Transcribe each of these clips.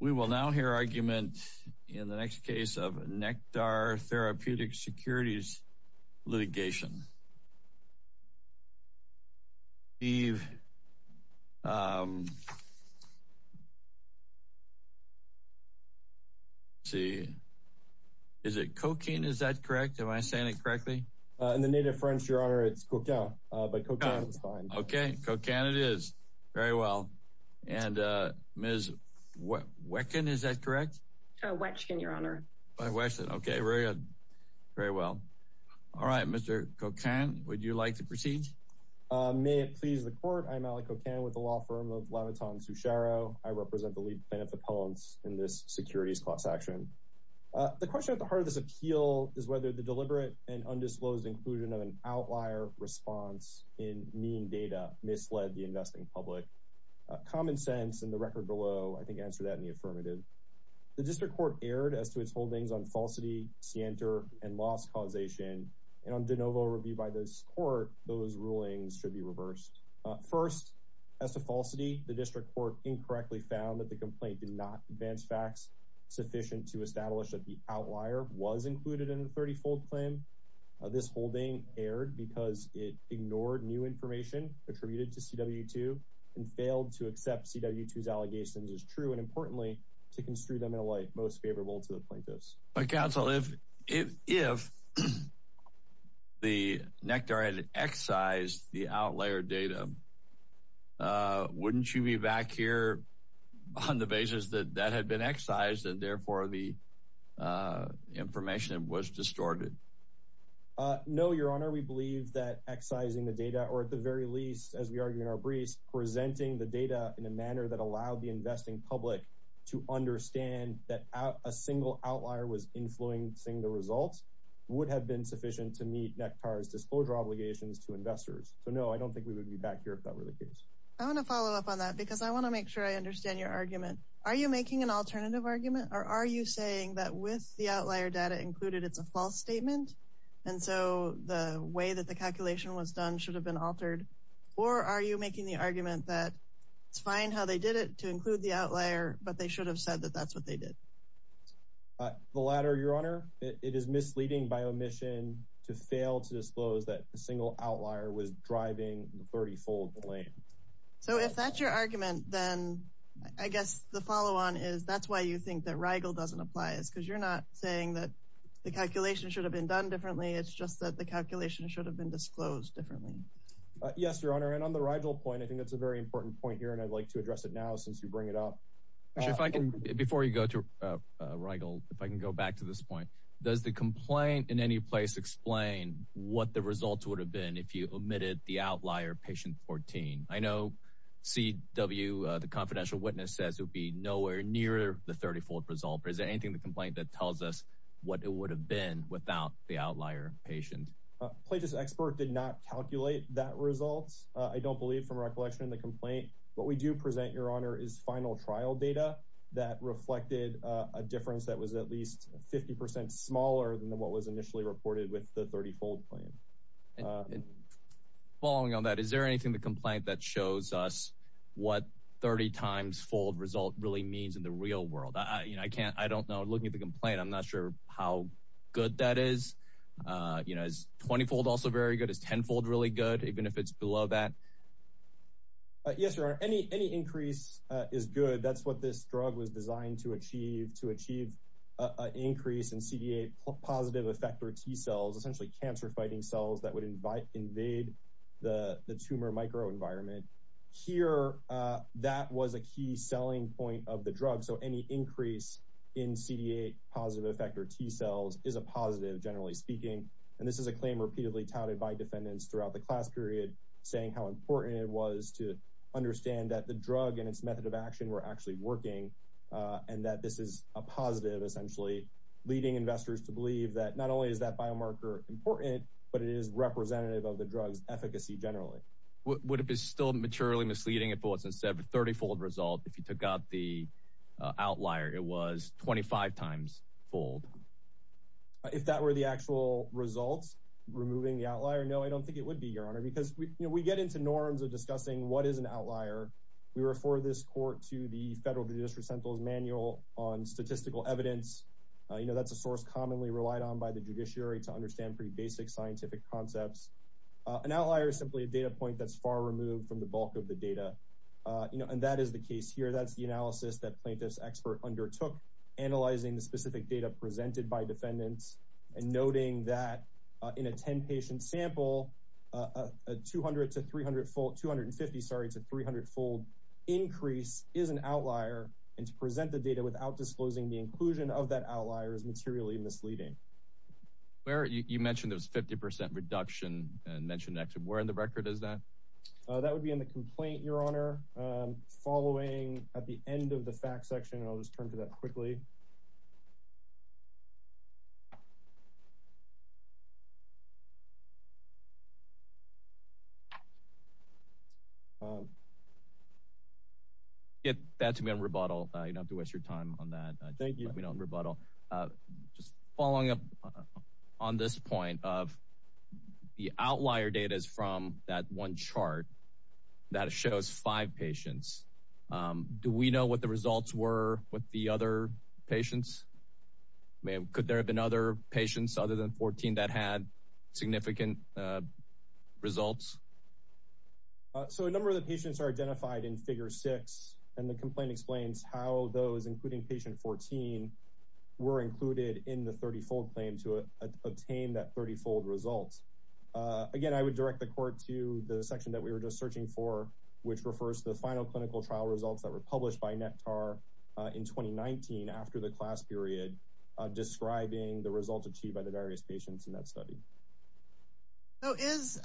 We will now hear argument in the next case of Nektar Therapeutic Securities Litigation. Steve, is it cocaine? Is that correct? Am I saying it correctly? In the native French, Your Honor, it's cocaine, but cocaine is fine. Okay. Cocaine it is. Very well. And Ms. Wechkin, is that correct? Wechkin, Your Honor. Wechkin. Okay. Very good. Very well. All right. Mr. Cocaine, would you like to proceed? May it please the Court. I'm Alec Cocaine with the law firm of Leviton-Sucharo. I represent the lead plaintiff's appellants in this Securities Clause action. The question at the heart of this appeal is whether the deliberate and undisclosed inclusion of an outlier response in mean data misled the investing public. Common sense and the record below, I think, answer that in the affirmative. The district court erred as to its holdings on falsity, scienter, and loss causation. And on de novo review by this court, those rulings should be reversed. First, as to falsity, the district court incorrectly found that the complaint did not advance facts sufficient to establish that the outlier was included in the 30-fold claim. This holding erred because it ignored new information attributed to CW2 and failed to accept CW2's allegations as true and, importantly, to construe them in a light most favorable to the plaintiffs. But, counsel, if the Nectar had excised the outlier data, wouldn't you be back here on the basis that that had been excised and, therefore, the information was distorted? No, your honor, we believe that excising the data or, at the very least, as we argue in our briefs, presenting the data in a manner that allowed the investing public to understand that a single outlier was influencing the results would have been sufficient to meet Nectar's disclosure obligations to investors. So, no, I don't think we would be back here if that were the case. I want to follow up on that because I want to make sure I understand your argument. Are you making an alternative argument, or are you saying that with the outlier data included, it's a false statement, and so the way that the calculation was done should have been altered? Or are you making the argument that it's fine how they did it to include the outlier, but they should have said that that's what they did? The latter, your honor. It is misleading by omission to fail to disclose that a single outlier was driving the 30-fold claim. So, if that's your argument, then I guess the follow-on is that's why you think that Rigel doesn't apply. It's because you're not saying that the calculation should have been done differently. It's just that the calculation should have been disclosed differently. Yes, your honor, and on the Rigel point, I think that's a very important point here, and I'd like to address it now since you bring it up. Before you go to Rigel, if I can go back to this point, does the complaint in any place explain what the results would have been if you omitted the outlier, patient 14? I know CW, the confidential witness, says it would be nowhere near the 30-fold result. Is there anything in the complaint that tells us what it would have been without the outlier patient? Plagia's expert did not calculate that result, I don't believe, from recollection in the complaint. What we do present, your honor, is final trial data that reflected a difference that was at least 50% smaller than what was initially reported with the 30-fold claim. Following on that, is there anything in the complaint that shows us what 30-times-fold result really means in the real world? I don't know. Looking at the complaint, I'm not sure how good that is. Is 20-fold also very good? Is 10-fold really good, even if it's below that? Yes, your honor. Any increase is good. That's what this drug was designed to achieve. To achieve an increase in CD8 positive effector T-cells, essentially cancer-fighting cells that would invade the tumor microenvironment. Here, that was a key selling point of the drug, so any increase in CD8 positive effector T-cells is a positive, generally speaking. This is a claim repeatedly touted by defendants throughout the class period, saying how important it was to understand that the drug and its method of action were actually working, and that this is a positive, essentially, leading investors to believe that not only is that biomarker important, but it is representative of the drug's efficacy, generally. Would it be still maturely misleading if it was instead of a 30-fold result, if you took out the outlier, it was 25-times-fold? If that were the actual results, removing the outlier, no, I don't think it would be, your honor, because we get into norms of discussing what is an outlier. We refer this court to the Federal Judiciary Central's Manual on Statistical Evidence. That's a source commonly relied on by the judiciary to understand pretty basic scientific concepts. An outlier is simply a data point that's far removed from the bulk of the data, and that is the case here. That's the analysis that plaintiff's expert undertook, analyzing the specific data presented by defendants, and noting that in a 10-patient sample, a 250- to 300-fold increase is an outlier, and to present the data without disclosing the inclusion of that outlier is materially misleading. You mentioned there was a 50-percent reduction, and mentioned actually where in the record is that? That would be in the complaint, your honor, following at the end of the facts section, and I'll just turn to that quickly. Give that to me on rebuttal. You don't have to waste your time on that. Thank you. Give that to me on rebuttal. Just following up on this point of the outlier data is from that one chart that shows five patients. Do we know what the results were with the other patients? Could there have been other patients other than 14 that had significant results? So a number of the patients are identified in figure six, and the complaint explains how those, including patient 14, were included in the 30-fold claim to obtain that 30-fold result. Again, I would direct the court to the section that we were just searching for, which refers to the final clinical trial results that were published by NECTAR in 2019 after the class period, describing the results achieved by the various patients in that study. So is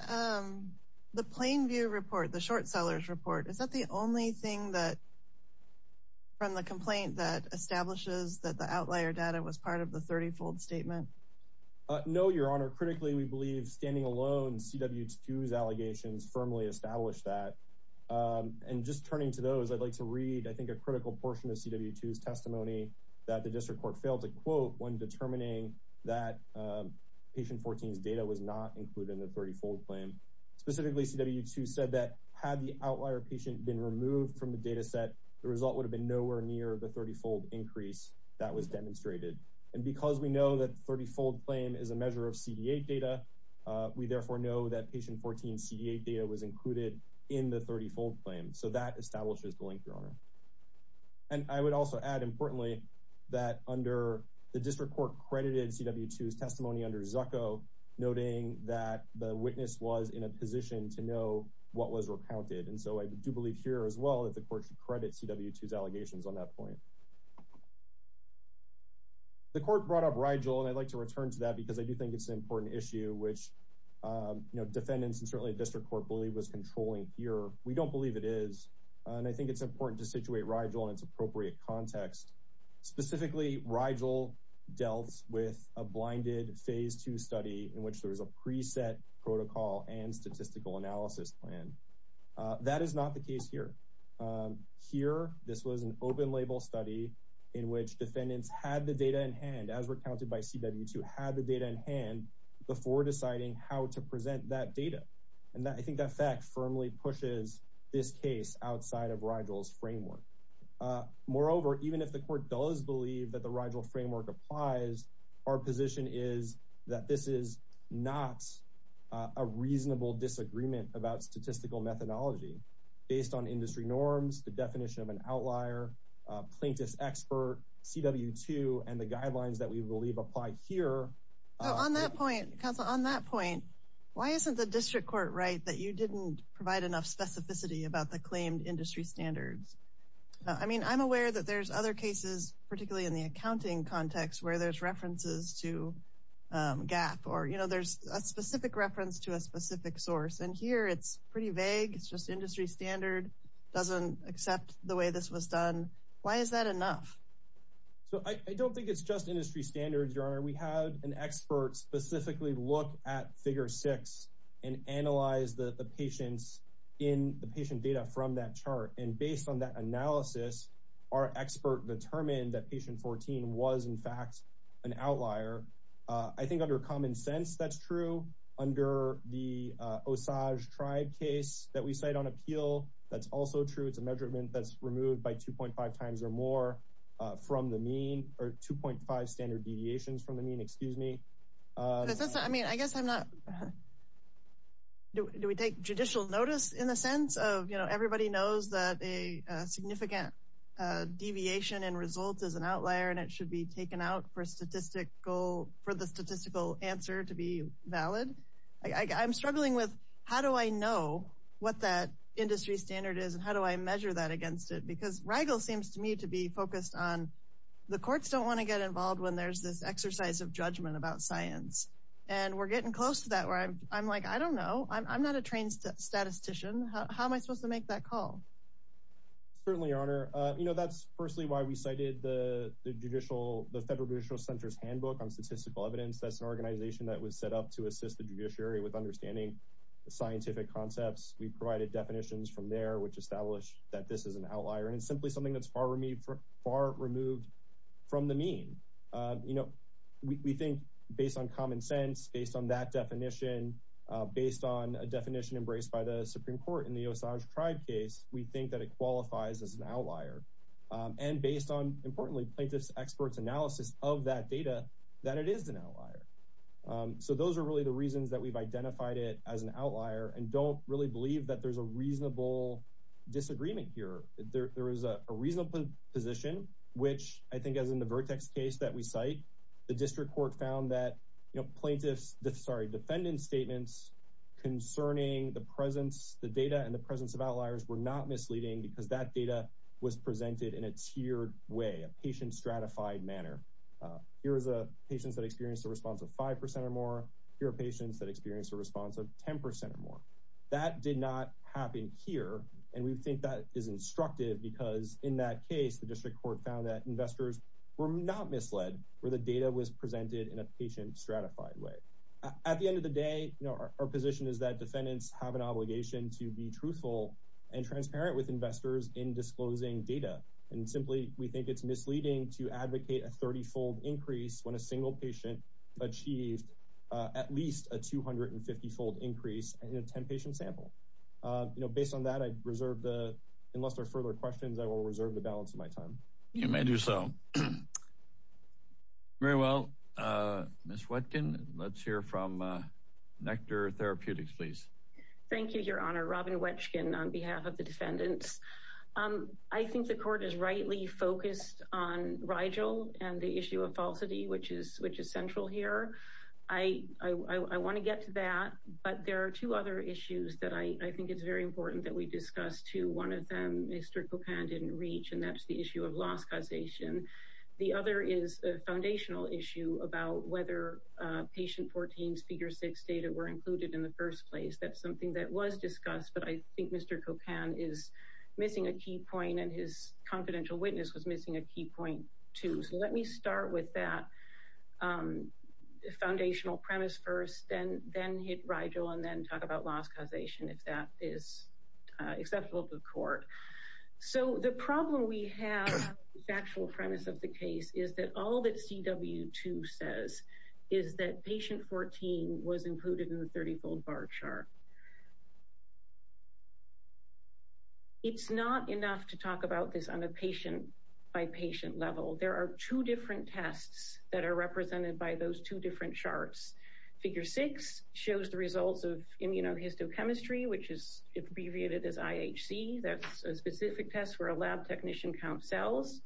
the plain view report, the short sellers report, is that the only thing from the complaint that establishes that the outlier data was part of the 30-fold statement? No, your honor. Critically, we believe standing alone, CW2's allegations firmly established that. And just turning to those, I'd like to read, I think, a critical portion of CW2's testimony that the district court failed to quote when determining that patient 14's data was not included in the 30-fold claim. Specifically, CW2 said that had the outlier patient been removed from the data set, the result would have been nowhere near the 30-fold increase that was demonstrated. And because we know that the 30-fold claim is a measure of CD8 data, we therefore know that patient 14's CD8 data was included in the 30-fold claim. So that establishes the link, your honor. And I would also add, importantly, that under the district court credited CW2's testimony under Zucco, noting that the witness was in a position to know what was recounted. And so I do believe here as well that the court should credit CW2's allegations on that point. The court brought up Rigel, and I'd like to return to that because I do think it's an important issue, which defendants and certainly district court believe was controlling here. We don't believe it is. And I think it's important to situate Rigel in its appropriate context. Specifically, Rigel dealt with a blinded Phase 2 study in which there was a preset protocol and statistical analysis plan. That is not the case here. Here, this was an open-label study in which defendants had the data in hand, as recounted by CW2, had the data in hand before deciding how to present that data. And I think that fact firmly pushes this case outside of Rigel's framework. Moreover, even if the court does believe that the Rigel framework applies, our position is that this is not a reasonable disagreement about statistical methodology. Based on industry norms, the definition of an outlier, plaintiff's expert, CW2, and the guidelines that we believe apply here. On that point, counsel, on that point, why isn't the district court right that you didn't provide enough specificity about the claimed industry standards? I mean, I'm aware that there's other cases, particularly in the accounting context, where there's references to GAAP or, you know, there's a specific reference to a specific source. And here it's pretty vague. It's just industry standard doesn't accept the way this was done. Why is that enough? So I don't think it's just industry standards, Your Honor. We had an expert specifically look at figure six and analyze the patients in the patient data from that chart. And based on that analysis, our expert determined that patient 14 was, in fact, an outlier. I think under common sense, that's true. Under the Osage Tribe case that we cite on appeal, that's also true. It's a measurement that's removed by 2.5 times or more from the mean or 2.5 standard deviations from the mean. Excuse me. I mean, I guess I'm not. Do we take judicial notice in the sense of, you know, everybody knows that a significant deviation in results is an outlier, and it should be taken out for statistical for the statistical answer to be valid. I'm struggling with how do I know what that industry standard is and how do I measure that against it? Because Rigel seems to me to be focused on the courts don't want to get involved when there's this exercise of judgment about science. And we're getting close to that where I'm like, I don't know. I'm not a trained statistician. How am I supposed to make that call? Certainly, Your Honor. You know, that's firstly why we cited the federal judicial center's handbook on statistical evidence. That's an organization that was set up to assist the judiciary with understanding the scientific concepts. We provided definitions from there, which established that this is an outlier and simply something that's far removed from the mean. You know, we think based on common sense, based on that definition, based on a definition embraced by the Supreme Court in the Osage tribe case, we think that it qualifies as an outlier. And based on, importantly, plaintiff's expert's analysis of that data, that it is an outlier. So those are really the reasons that we've identified it as an outlier and don't really believe that there's a reasonable disagreement here. There is a reasonable position, which I think as in the Vertex case that we cite, the district court found that, you know, plaintiff's, sorry, defendant's statements concerning the presence, the data and the presence of outliers were not misleading because that data was presented in a tiered way, a patient stratified manner. Here is a patient that experienced a response of 5% or more. Here are patients that experienced a response of 10% or more. That did not happen here. And we think that is instructive because in that case, the district court found that investors were not misled where the data was presented in a patient stratified way. At the end of the day, our position is that defendants have an obligation to be truthful and transparent with investors in disclosing data. And simply, we think it's misleading to advocate a 30 fold increase when a single patient achieved at least a 250 fold increase in a 10 patient sample. You know, based on that, I reserve the, unless there are further questions, I will reserve the balance of my time. You may do so. Very well. Miss Watkin, let's hear from Nectar Therapeutics, please. Thank you, Your Honor. Robin Watkin on behalf of the defendants. I think the court is rightly focused on Rigel and the issue of falsity, which is which is central here. I want to get to that, but there are two other issues that I think it's very important that we discuss, too. One of them, Mr. Cocan didn't reach, and that's the issue of loss causation. The other is a foundational issue about whether patient 14's figure 6 data were included in the first place. That's something that was discussed, but I think Mr. Cocan is missing a key point and his confidential witness was missing a key point, too. So let me start with that foundational premise first, then hit Rigel, and then talk about loss causation if that is acceptable to the court. So the problem we have, the actual premise of the case, is that all that CW2 says is that patient 14 was included in the 30-fold bar chart. It's not enough to talk about this on a patient by patient level. There are two different tests that are represented by those two different charts. Figure 6 shows the results of immunohistochemistry, which is abbreviated as IHC. That's a specific test where a lab technician counts cells.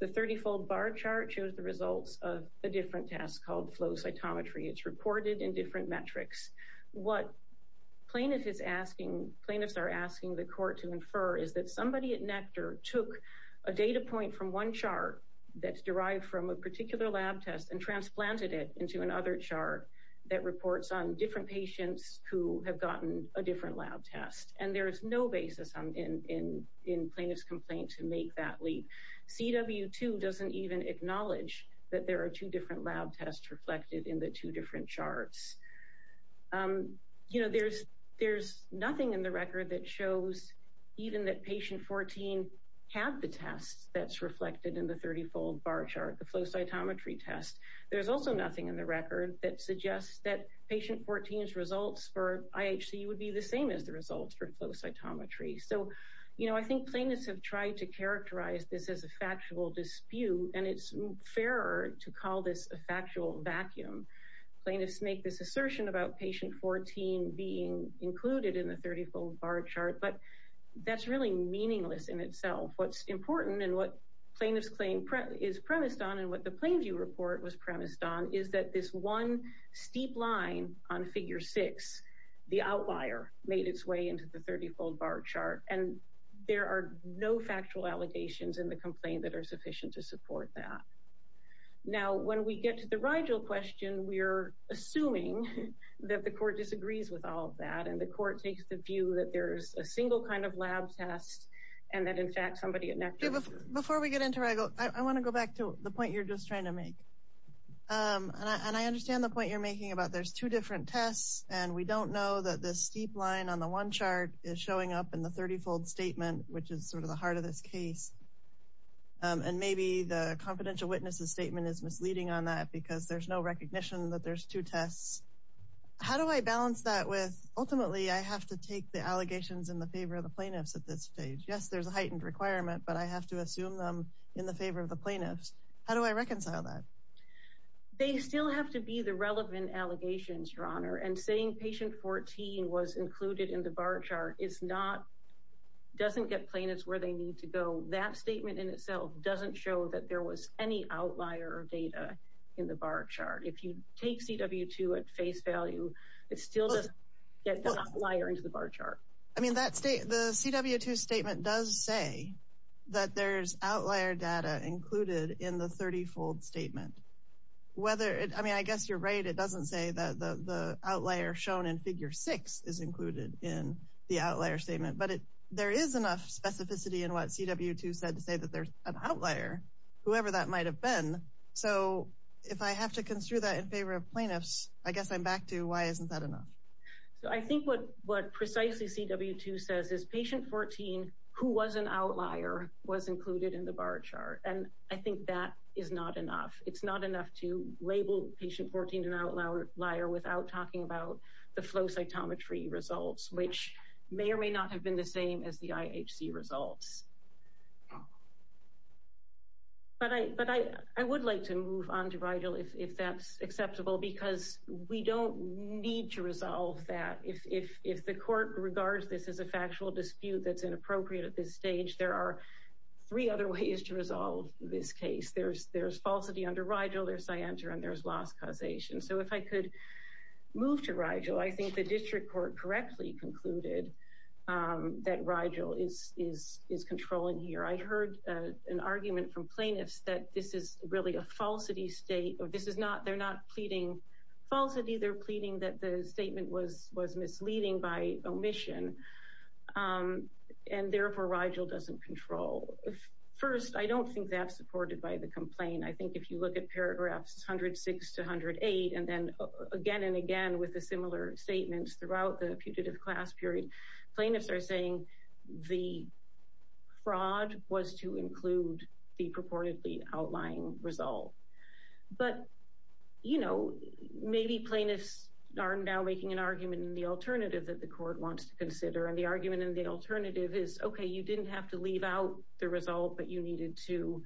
The 30-fold bar chart shows the results of a different test called flow cytometry. It's reported in different metrics. What plaintiffs are asking the court to infer is that somebody at Nectar took a data point from one chart that's derived from a particular lab test and transplanted it into another chart that reports on different patients who have gotten a different lab test. And there is no basis in plaintiff's complaint to make that leap. CW2 doesn't even acknowledge that there are two different lab tests reflected in the two different charts. There's nothing in the record that shows even that patient 14 had the test that's reflected in the 30-fold bar chart, the flow cytometry test. There's also nothing in the record that suggests that patient 14's results for IHC would be the same as the results for flow cytometry. So, you know, I think plaintiffs have tried to characterize this as a factual dispute, and it's fairer to call this a factual vacuum. Plaintiffs make this assertion about patient 14 being included in the 30-fold bar chart, but that's really meaningless in itself. What's important and what plaintiff's claim is premised on and what the Plainview report was premised on is that this one steep line on figure 6, the outlier, made its way into the 30-fold bar chart, and there are no factual allegations in the complaint that are sufficient to support that. Now, when we get to the Rigel question, we're assuming that the court disagrees with all of that, and the court takes the view that there's a single kind of lab test, and that, in fact, somebody at NACCHO... Before we get into Rigel, I want to go back to the point you're just trying to make. And I understand the point you're making about there's two different tests, and we don't know that this steep line on the one chart is showing up in the 30-fold statement, which is sort of the heart of this case. And maybe the confidential witnesses statement is misleading on that because there's no recognition that there's two tests. How do I balance that with, ultimately, I have to take the allegations in the favor of the plaintiffs at this stage? Yes, there's a heightened requirement, but I have to assume them in the favor of the plaintiffs. How do I reconcile that? They still have to be the relevant allegations, Your Honor, and saying patient 14 was included in the bar chart is not... doesn't get plaintiffs where they need to go. That statement in itself doesn't show that there was any outlier data in the bar chart. If you take CW2 at face value, it still doesn't get the outlier into the bar chart. I mean, the CW2 statement does say that there's outlier data included in the 30-fold statement. I mean, I guess you're right. It doesn't say that the outlier shown in Figure 6 is included in the outlier statement. But there is enough specificity in what CW2 said to say that there's an outlier, whoever that might have been. So if I have to construe that in favor of plaintiffs, I guess I'm back to why isn't that enough? So I think what precisely CW2 says is patient 14, who was an outlier, was included in the bar chart. And I think that is not enough. It's not enough to label patient 14 an outlier without talking about the flow cytometry results, which may or may not have been the same as the IHC results. But I would like to move on to Rigel if that's acceptable, because we don't need to resolve that. If the court regards this as a factual dispute that's inappropriate at this stage, there are three other ways to resolve this case. There's falsity under Rigel, there's scienter, and there's loss causation. So if I could move to Rigel, I think the district court correctly concluded that Rigel is controlling here. I heard an argument from plaintiffs that this is really a falsity state. They're not pleading falsity. They're pleading that the statement was misleading by omission, and therefore Rigel doesn't control. First, I don't think that's supported by the complaint. I think if you look at paragraphs 106 to 108, and then again and again with the similar statements throughout the putative class period, plaintiffs are saying the fraud was to include the purportedly outlying result. But, you know, maybe plaintiffs are now making an argument in the alternative that the court wants to consider, and the argument in the alternative is, okay, you didn't have to leave out the result, but you needed to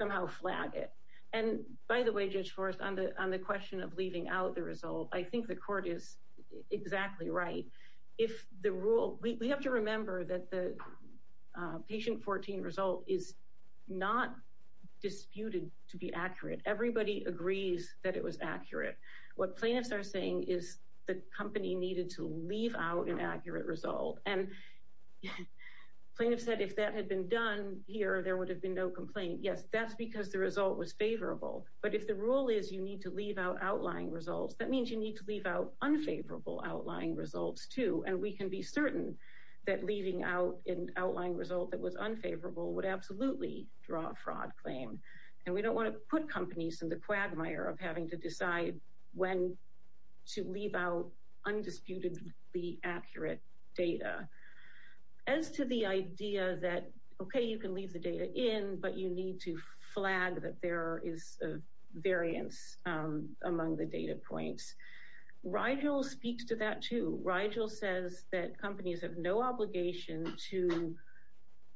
somehow flag it. And by the way, Judge Forrest, on the question of leaving out the result, I think the court is exactly right. We have to remember that the patient 14 result is not disputed to be accurate. Everybody agrees that it was accurate. What plaintiffs are saying is the company needed to leave out an accurate result. And plaintiffs said if that had been done here, there would have been no complaint. Yes, that's because the result was favorable. But if the rule is you need to leave out outlying results, that means you need to leave out unfavorable outlying results too. And we can be certain that leaving out an outlying result that was unfavorable would absolutely draw a fraud claim. And we don't want to put companies in the quagmire of having to decide when to leave out undisputedly accurate data. As to the idea that, okay, you can leave the data in, but you need to flag that there is a variance among the data points. Rigel speaks to that too. Rigel says that companies have no obligation to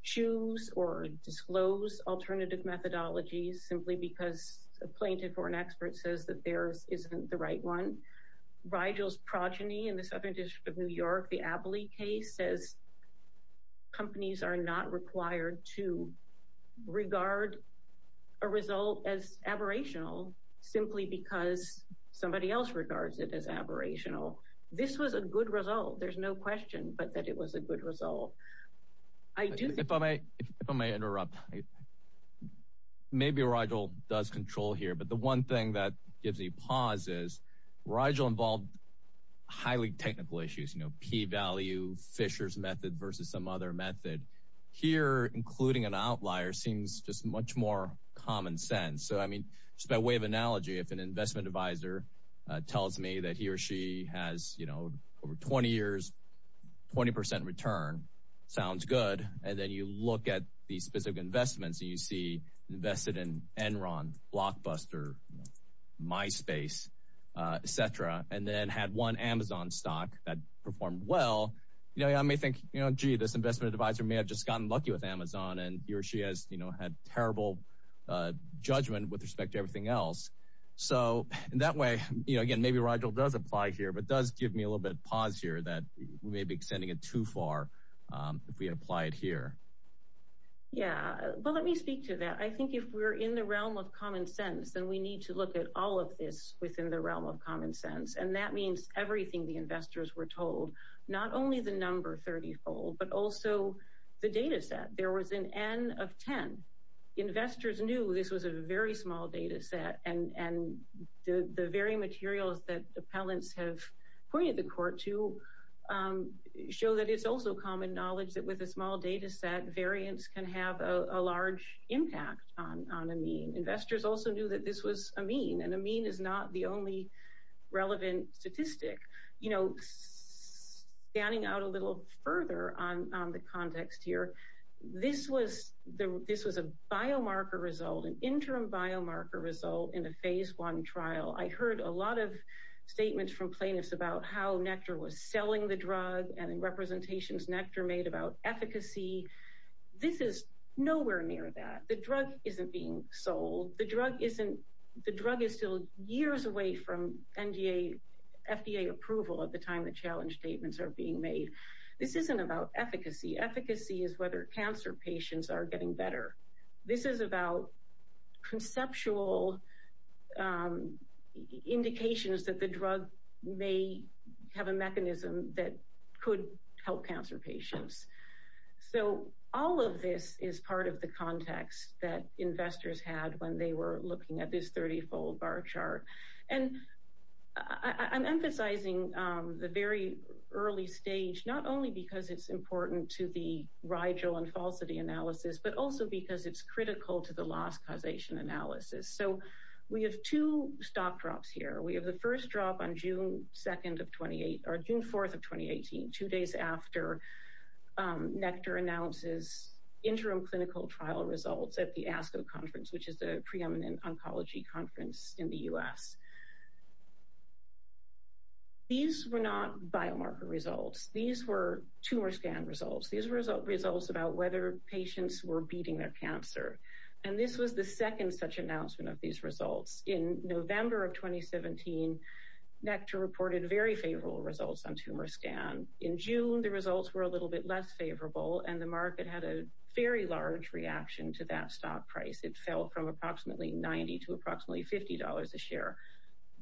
choose or disclose alternative methodologies simply because a plaintiff or an expert says that theirs isn't the right one. Rigel's progeny in the Southern District of New York, the Abley case, says companies are not required to regard a result as aberrational simply because somebody else regards it as aberrational. This was a good result. There's no question but that it was a good result. If I may interrupt, maybe Rigel does control here. But the one thing that gives me pause is Rigel involved highly technical issues, you know, p-value, Fisher's method versus some other method. Here, including an outlier seems just much more common sense. So, I mean, just by way of analogy, if an investment advisor tells me that he or she has, you know, over 20 years, 20 percent return, sounds good. And then you look at these specific investments and you see invested in Enron, Blockbuster, MySpace, et cetera, and then had one Amazon stock that performed well. You know, I may think, you know, gee, this investment advisor may have just gotten lucky with Amazon and he or she has, you know, had terrible judgment with respect to everything else. So, in that way, you know, again, maybe Rigel does apply here but does give me a little bit of pause here that we may be extending it too far if we apply it here. Yeah. Well, let me speak to that. I think if we're in the realm of common sense, then we need to look at all of this within the realm of common sense. And that means everything the investors were told, not only the number 30-fold but also the data set. There was an N of 10. Investors knew this was a very small data set and the very materials that appellants have pointed the court to show that it's also common knowledge that with a small data set, variants can have a large impact on a mean. Investors also knew that this was a mean and a mean is not the only relevant statistic. You know, standing out a little further on the context here, this was a biomarker result, an interim biomarker result in a phase one trial. I heard a lot of statements from plaintiffs about how Nectar was selling the drug and representations Nectar made about efficacy. This is nowhere near that. The drug isn't being sold. The drug is still years away from FDA approval at the time the challenge statements are being made. This isn't about efficacy. Efficacy is whether cancer patients are getting better. This is about conceptual indications that the drug may have a mechanism that could help cancer patients. So all of this is part of the context that investors had when they were looking at this 30-fold bar chart. And I'm emphasizing the very early stage not only because it's important to the Rigel and falsity analysis, but also because it's critical to the loss causation analysis. So we have two stock drops here. We have the first drop on June 2nd of 28, or June 4th of 2018, two days after Nectar announces interim clinical trial results at the ASCO conference, which is the preeminent oncology conference in the U.S. These were not biomarker results. These were tumor scan results. These were results about whether patients were beating their cancer. And this was the second such announcement of these results. In November of 2017, Nectar reported very favorable results on tumor scan. In June, the results were a little bit less favorable, and the market had a very large reaction to that stock price. It fell from approximately $90 to approximately $50 a share.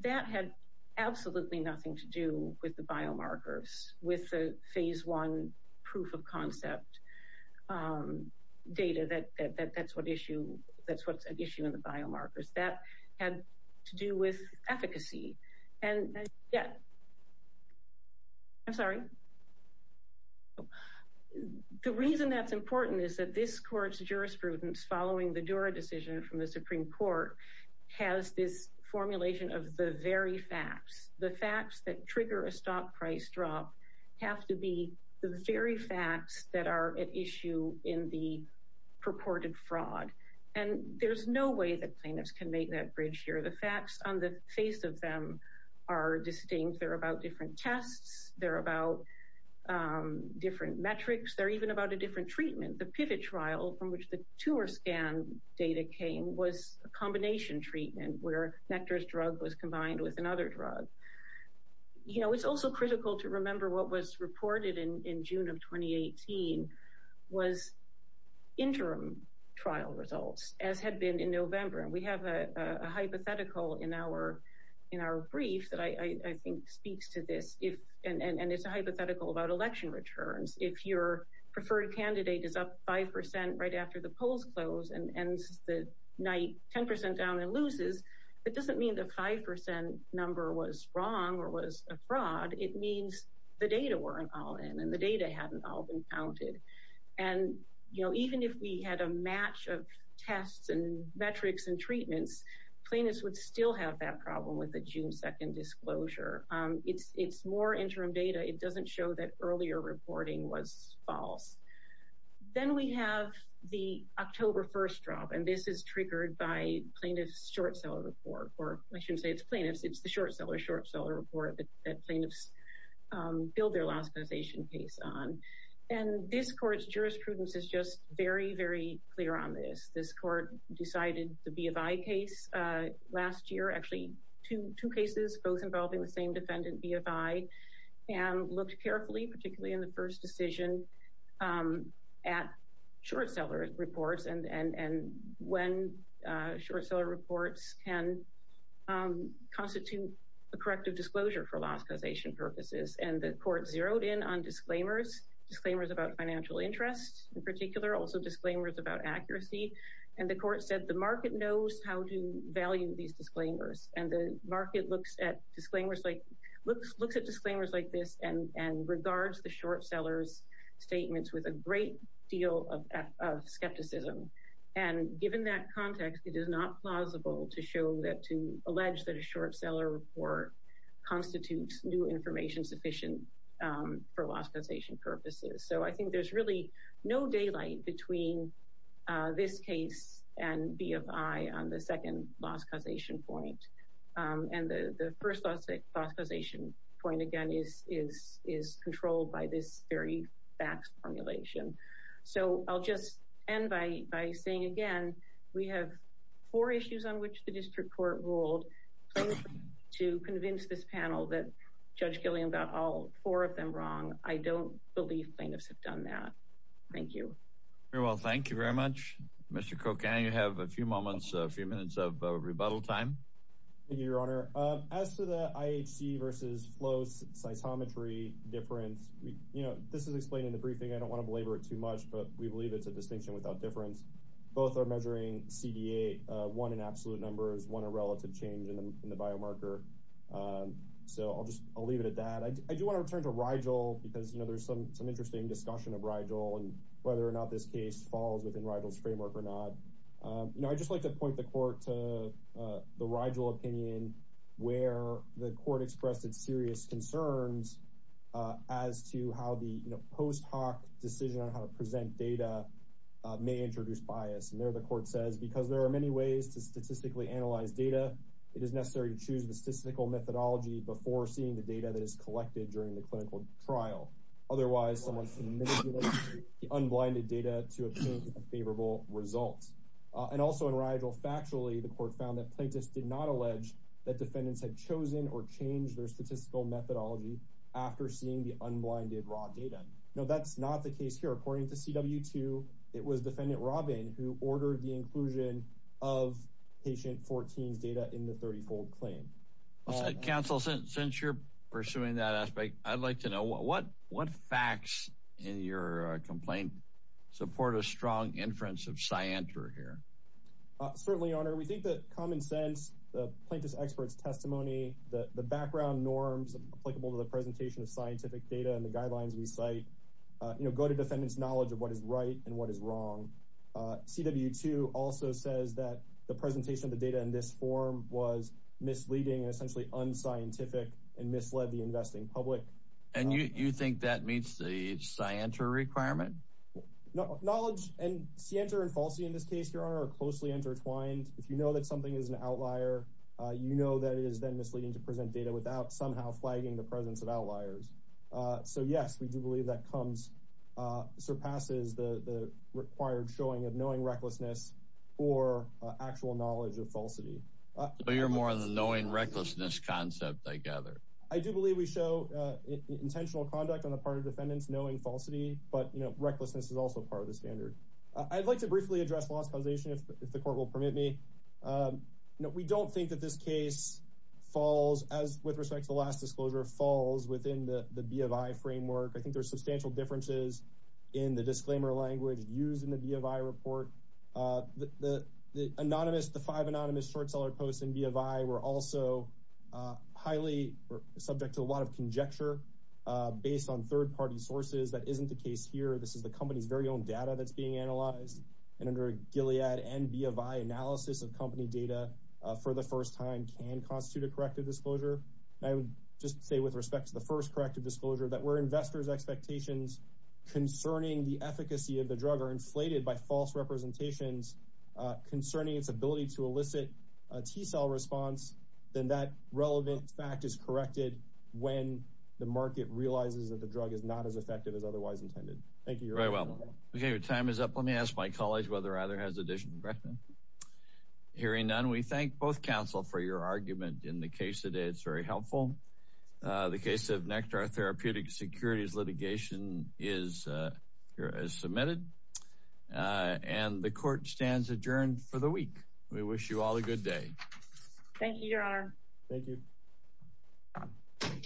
That had absolutely nothing to do with the biomarkers, with the phase one proof of concept data. That's what's at issue in the biomarkers. That had to do with efficacy. And, yeah. I'm sorry. The reason that's important is that this court's jurisprudence following the Dura decision from the Supreme Court has this formulation of the very facts. The facts that trigger a stock price drop have to be the very facts that are at issue in the purported fraud. And there's no way that plaintiffs can make that bridge here. The facts on the face of them are distinct. They're about different tests. They're about different metrics. They're even about a different treatment. The PIVOT trial from which the tumor scan data came was a combination treatment where Nectar's drug was combined with another drug. You know, it's also critical to remember what was reported in June of 2018 was interim trial results, as had been in November. And we have a hypothetical in our brief that I think speaks to this. And it's a hypothetical about election returns. If your preferred candidate is up 5% right after the polls close and ends the night 10% down and loses, it doesn't mean the 5% number was wrong or was a fraud. It means the data weren't all in and the data hadn't all been counted. And, you know, even if we had a match of tests and metrics and treatments, plaintiffs would still have that problem with the June 2nd disclosure. It's more interim data. It doesn't show that earlier reporting was false. Then we have the October 1st drop. And this is triggered by plaintiff's short-seller report. Or I shouldn't say it's plaintiff's. It's the short-seller's short-seller report that plaintiffs billed their last compensation case on. And this court's jurisprudence is just very, very clear on this. This court decided the BFI case last year, actually two cases, both involving the same defendant, BFI. And looked carefully, particularly in the first decision, at short-seller reports and when short-seller reports can constitute a corrective disclosure for last compensation purposes. And the court zeroed in on disclaimers, disclaimers about financial interests in particular, also disclaimers about accuracy. And the court said the market knows how to value these disclaimers. And the market looks at disclaimers like this and regards the short-seller's statements with a great deal of skepticism. And given that context, it is not plausible to show that, to allege that a short-seller report constitutes new information sufficient for last compensation purposes. So I think there's really no daylight between this case and BFI on the second loss causation point. And the first loss causation point, again, is controlled by this very fax formulation. So I'll just end by saying again, we have four issues on which the district court ruled to convince this panel that Judge Gilliam got all four of them wrong. I don't believe plaintiffs have done that. Thank you. Very well. Thank you very much. Mr. Kokan, you have a few moments, a few minutes of rebuttal time. Thank you, Your Honor. As to the IHC versus FLOS cytometry difference, you know, this is explained in the briefing. I don't want to belabor it too much, but we believe it's a distinction without difference. Both are measuring CDA, one in absolute numbers, one a relative change in the biomarker. So I'll just leave it at that. I do want to return to Rigel because, you know, there's some interesting discussion of Rigel and whether or not this case falls within Rigel's framework or not. You know, I'd just like to point the court to the Rigel opinion where the court expressed its serious concerns as to how the post hoc decision on how to present data may introduce bias. And there the court says, because there are many ways to statistically analyze data, it is necessary to choose the statistical methodology before seeing the data that is collected during the clinical trial. Otherwise, someone can manipulate the unblinded data to obtain a favorable result. And also in Rigel, factually, the court found that plaintiffs did not allege that defendants had chosen or changed their statistical methodology after seeing the unblinded raw data. No, that's not the case here. According to CW2, it was defendant Robin who ordered the inclusion of patient 14's data in the 30-fold claim. Counsel, since you're pursuing that aspect, I'd like to know what facts in your complaint support a strong inference of scienter here. Certainly, Your Honor, we think that common sense, the plaintiff's expert's testimony, the background norms applicable to the presentation of scientific data and the guidelines we cite, you know, go to defendant's knowledge of what is right and what is wrong. CW2 also says that the presentation of the data in this form was misleading and essentially unscientific and misled the investing public. And you think that meets the scienter requirement? Knowledge and scienter and falsity in this case, Your Honor, are closely intertwined. If you know that something is an outlier, you know that it is then misleading to present data without somehow flagging the presence of outliers. So, yes, we do believe that comes, surpasses the required showing of knowing recklessness or actual knowledge of falsity. So you're more of the knowing recklessness concept, I gather. I do believe we show intentional conduct on the part of defendants knowing falsity. But, you know, recklessness is also part of the standard. I'd like to briefly address lost causation, if the court will permit me. We don't think that this case falls, as with respect to the last disclosure, falls within the BFI framework. I think there are substantial differences in the disclaimer language used in the BFI report. The anonymous, the five anonymous short seller posts in BFI were also highly subject to a lot of conjecture based on third party sources. That isn't the case here. This is the company's very own data that's being analyzed. And under a Gilead and BFI analysis of company data for the first time can constitute a corrective disclosure. I would just say with respect to the first corrective disclosure that we're investors expectations concerning the efficacy of the drug are inflated by false representations concerning its ability to elicit a T cell response. Then that relevant fact is corrected when the market realizes that the drug is not as effective as otherwise intended. Thank you very well. OK, your time is up. Let me ask my colleagues whether either has addition. Hearing none, we thank both counsel for your argument in the case today. It's very helpful. The case of nectar therapeutic securities litigation is here as submitted and the court stands adjourned for the week. We wish you all a good day. Thank you, Your Honor. Thank you.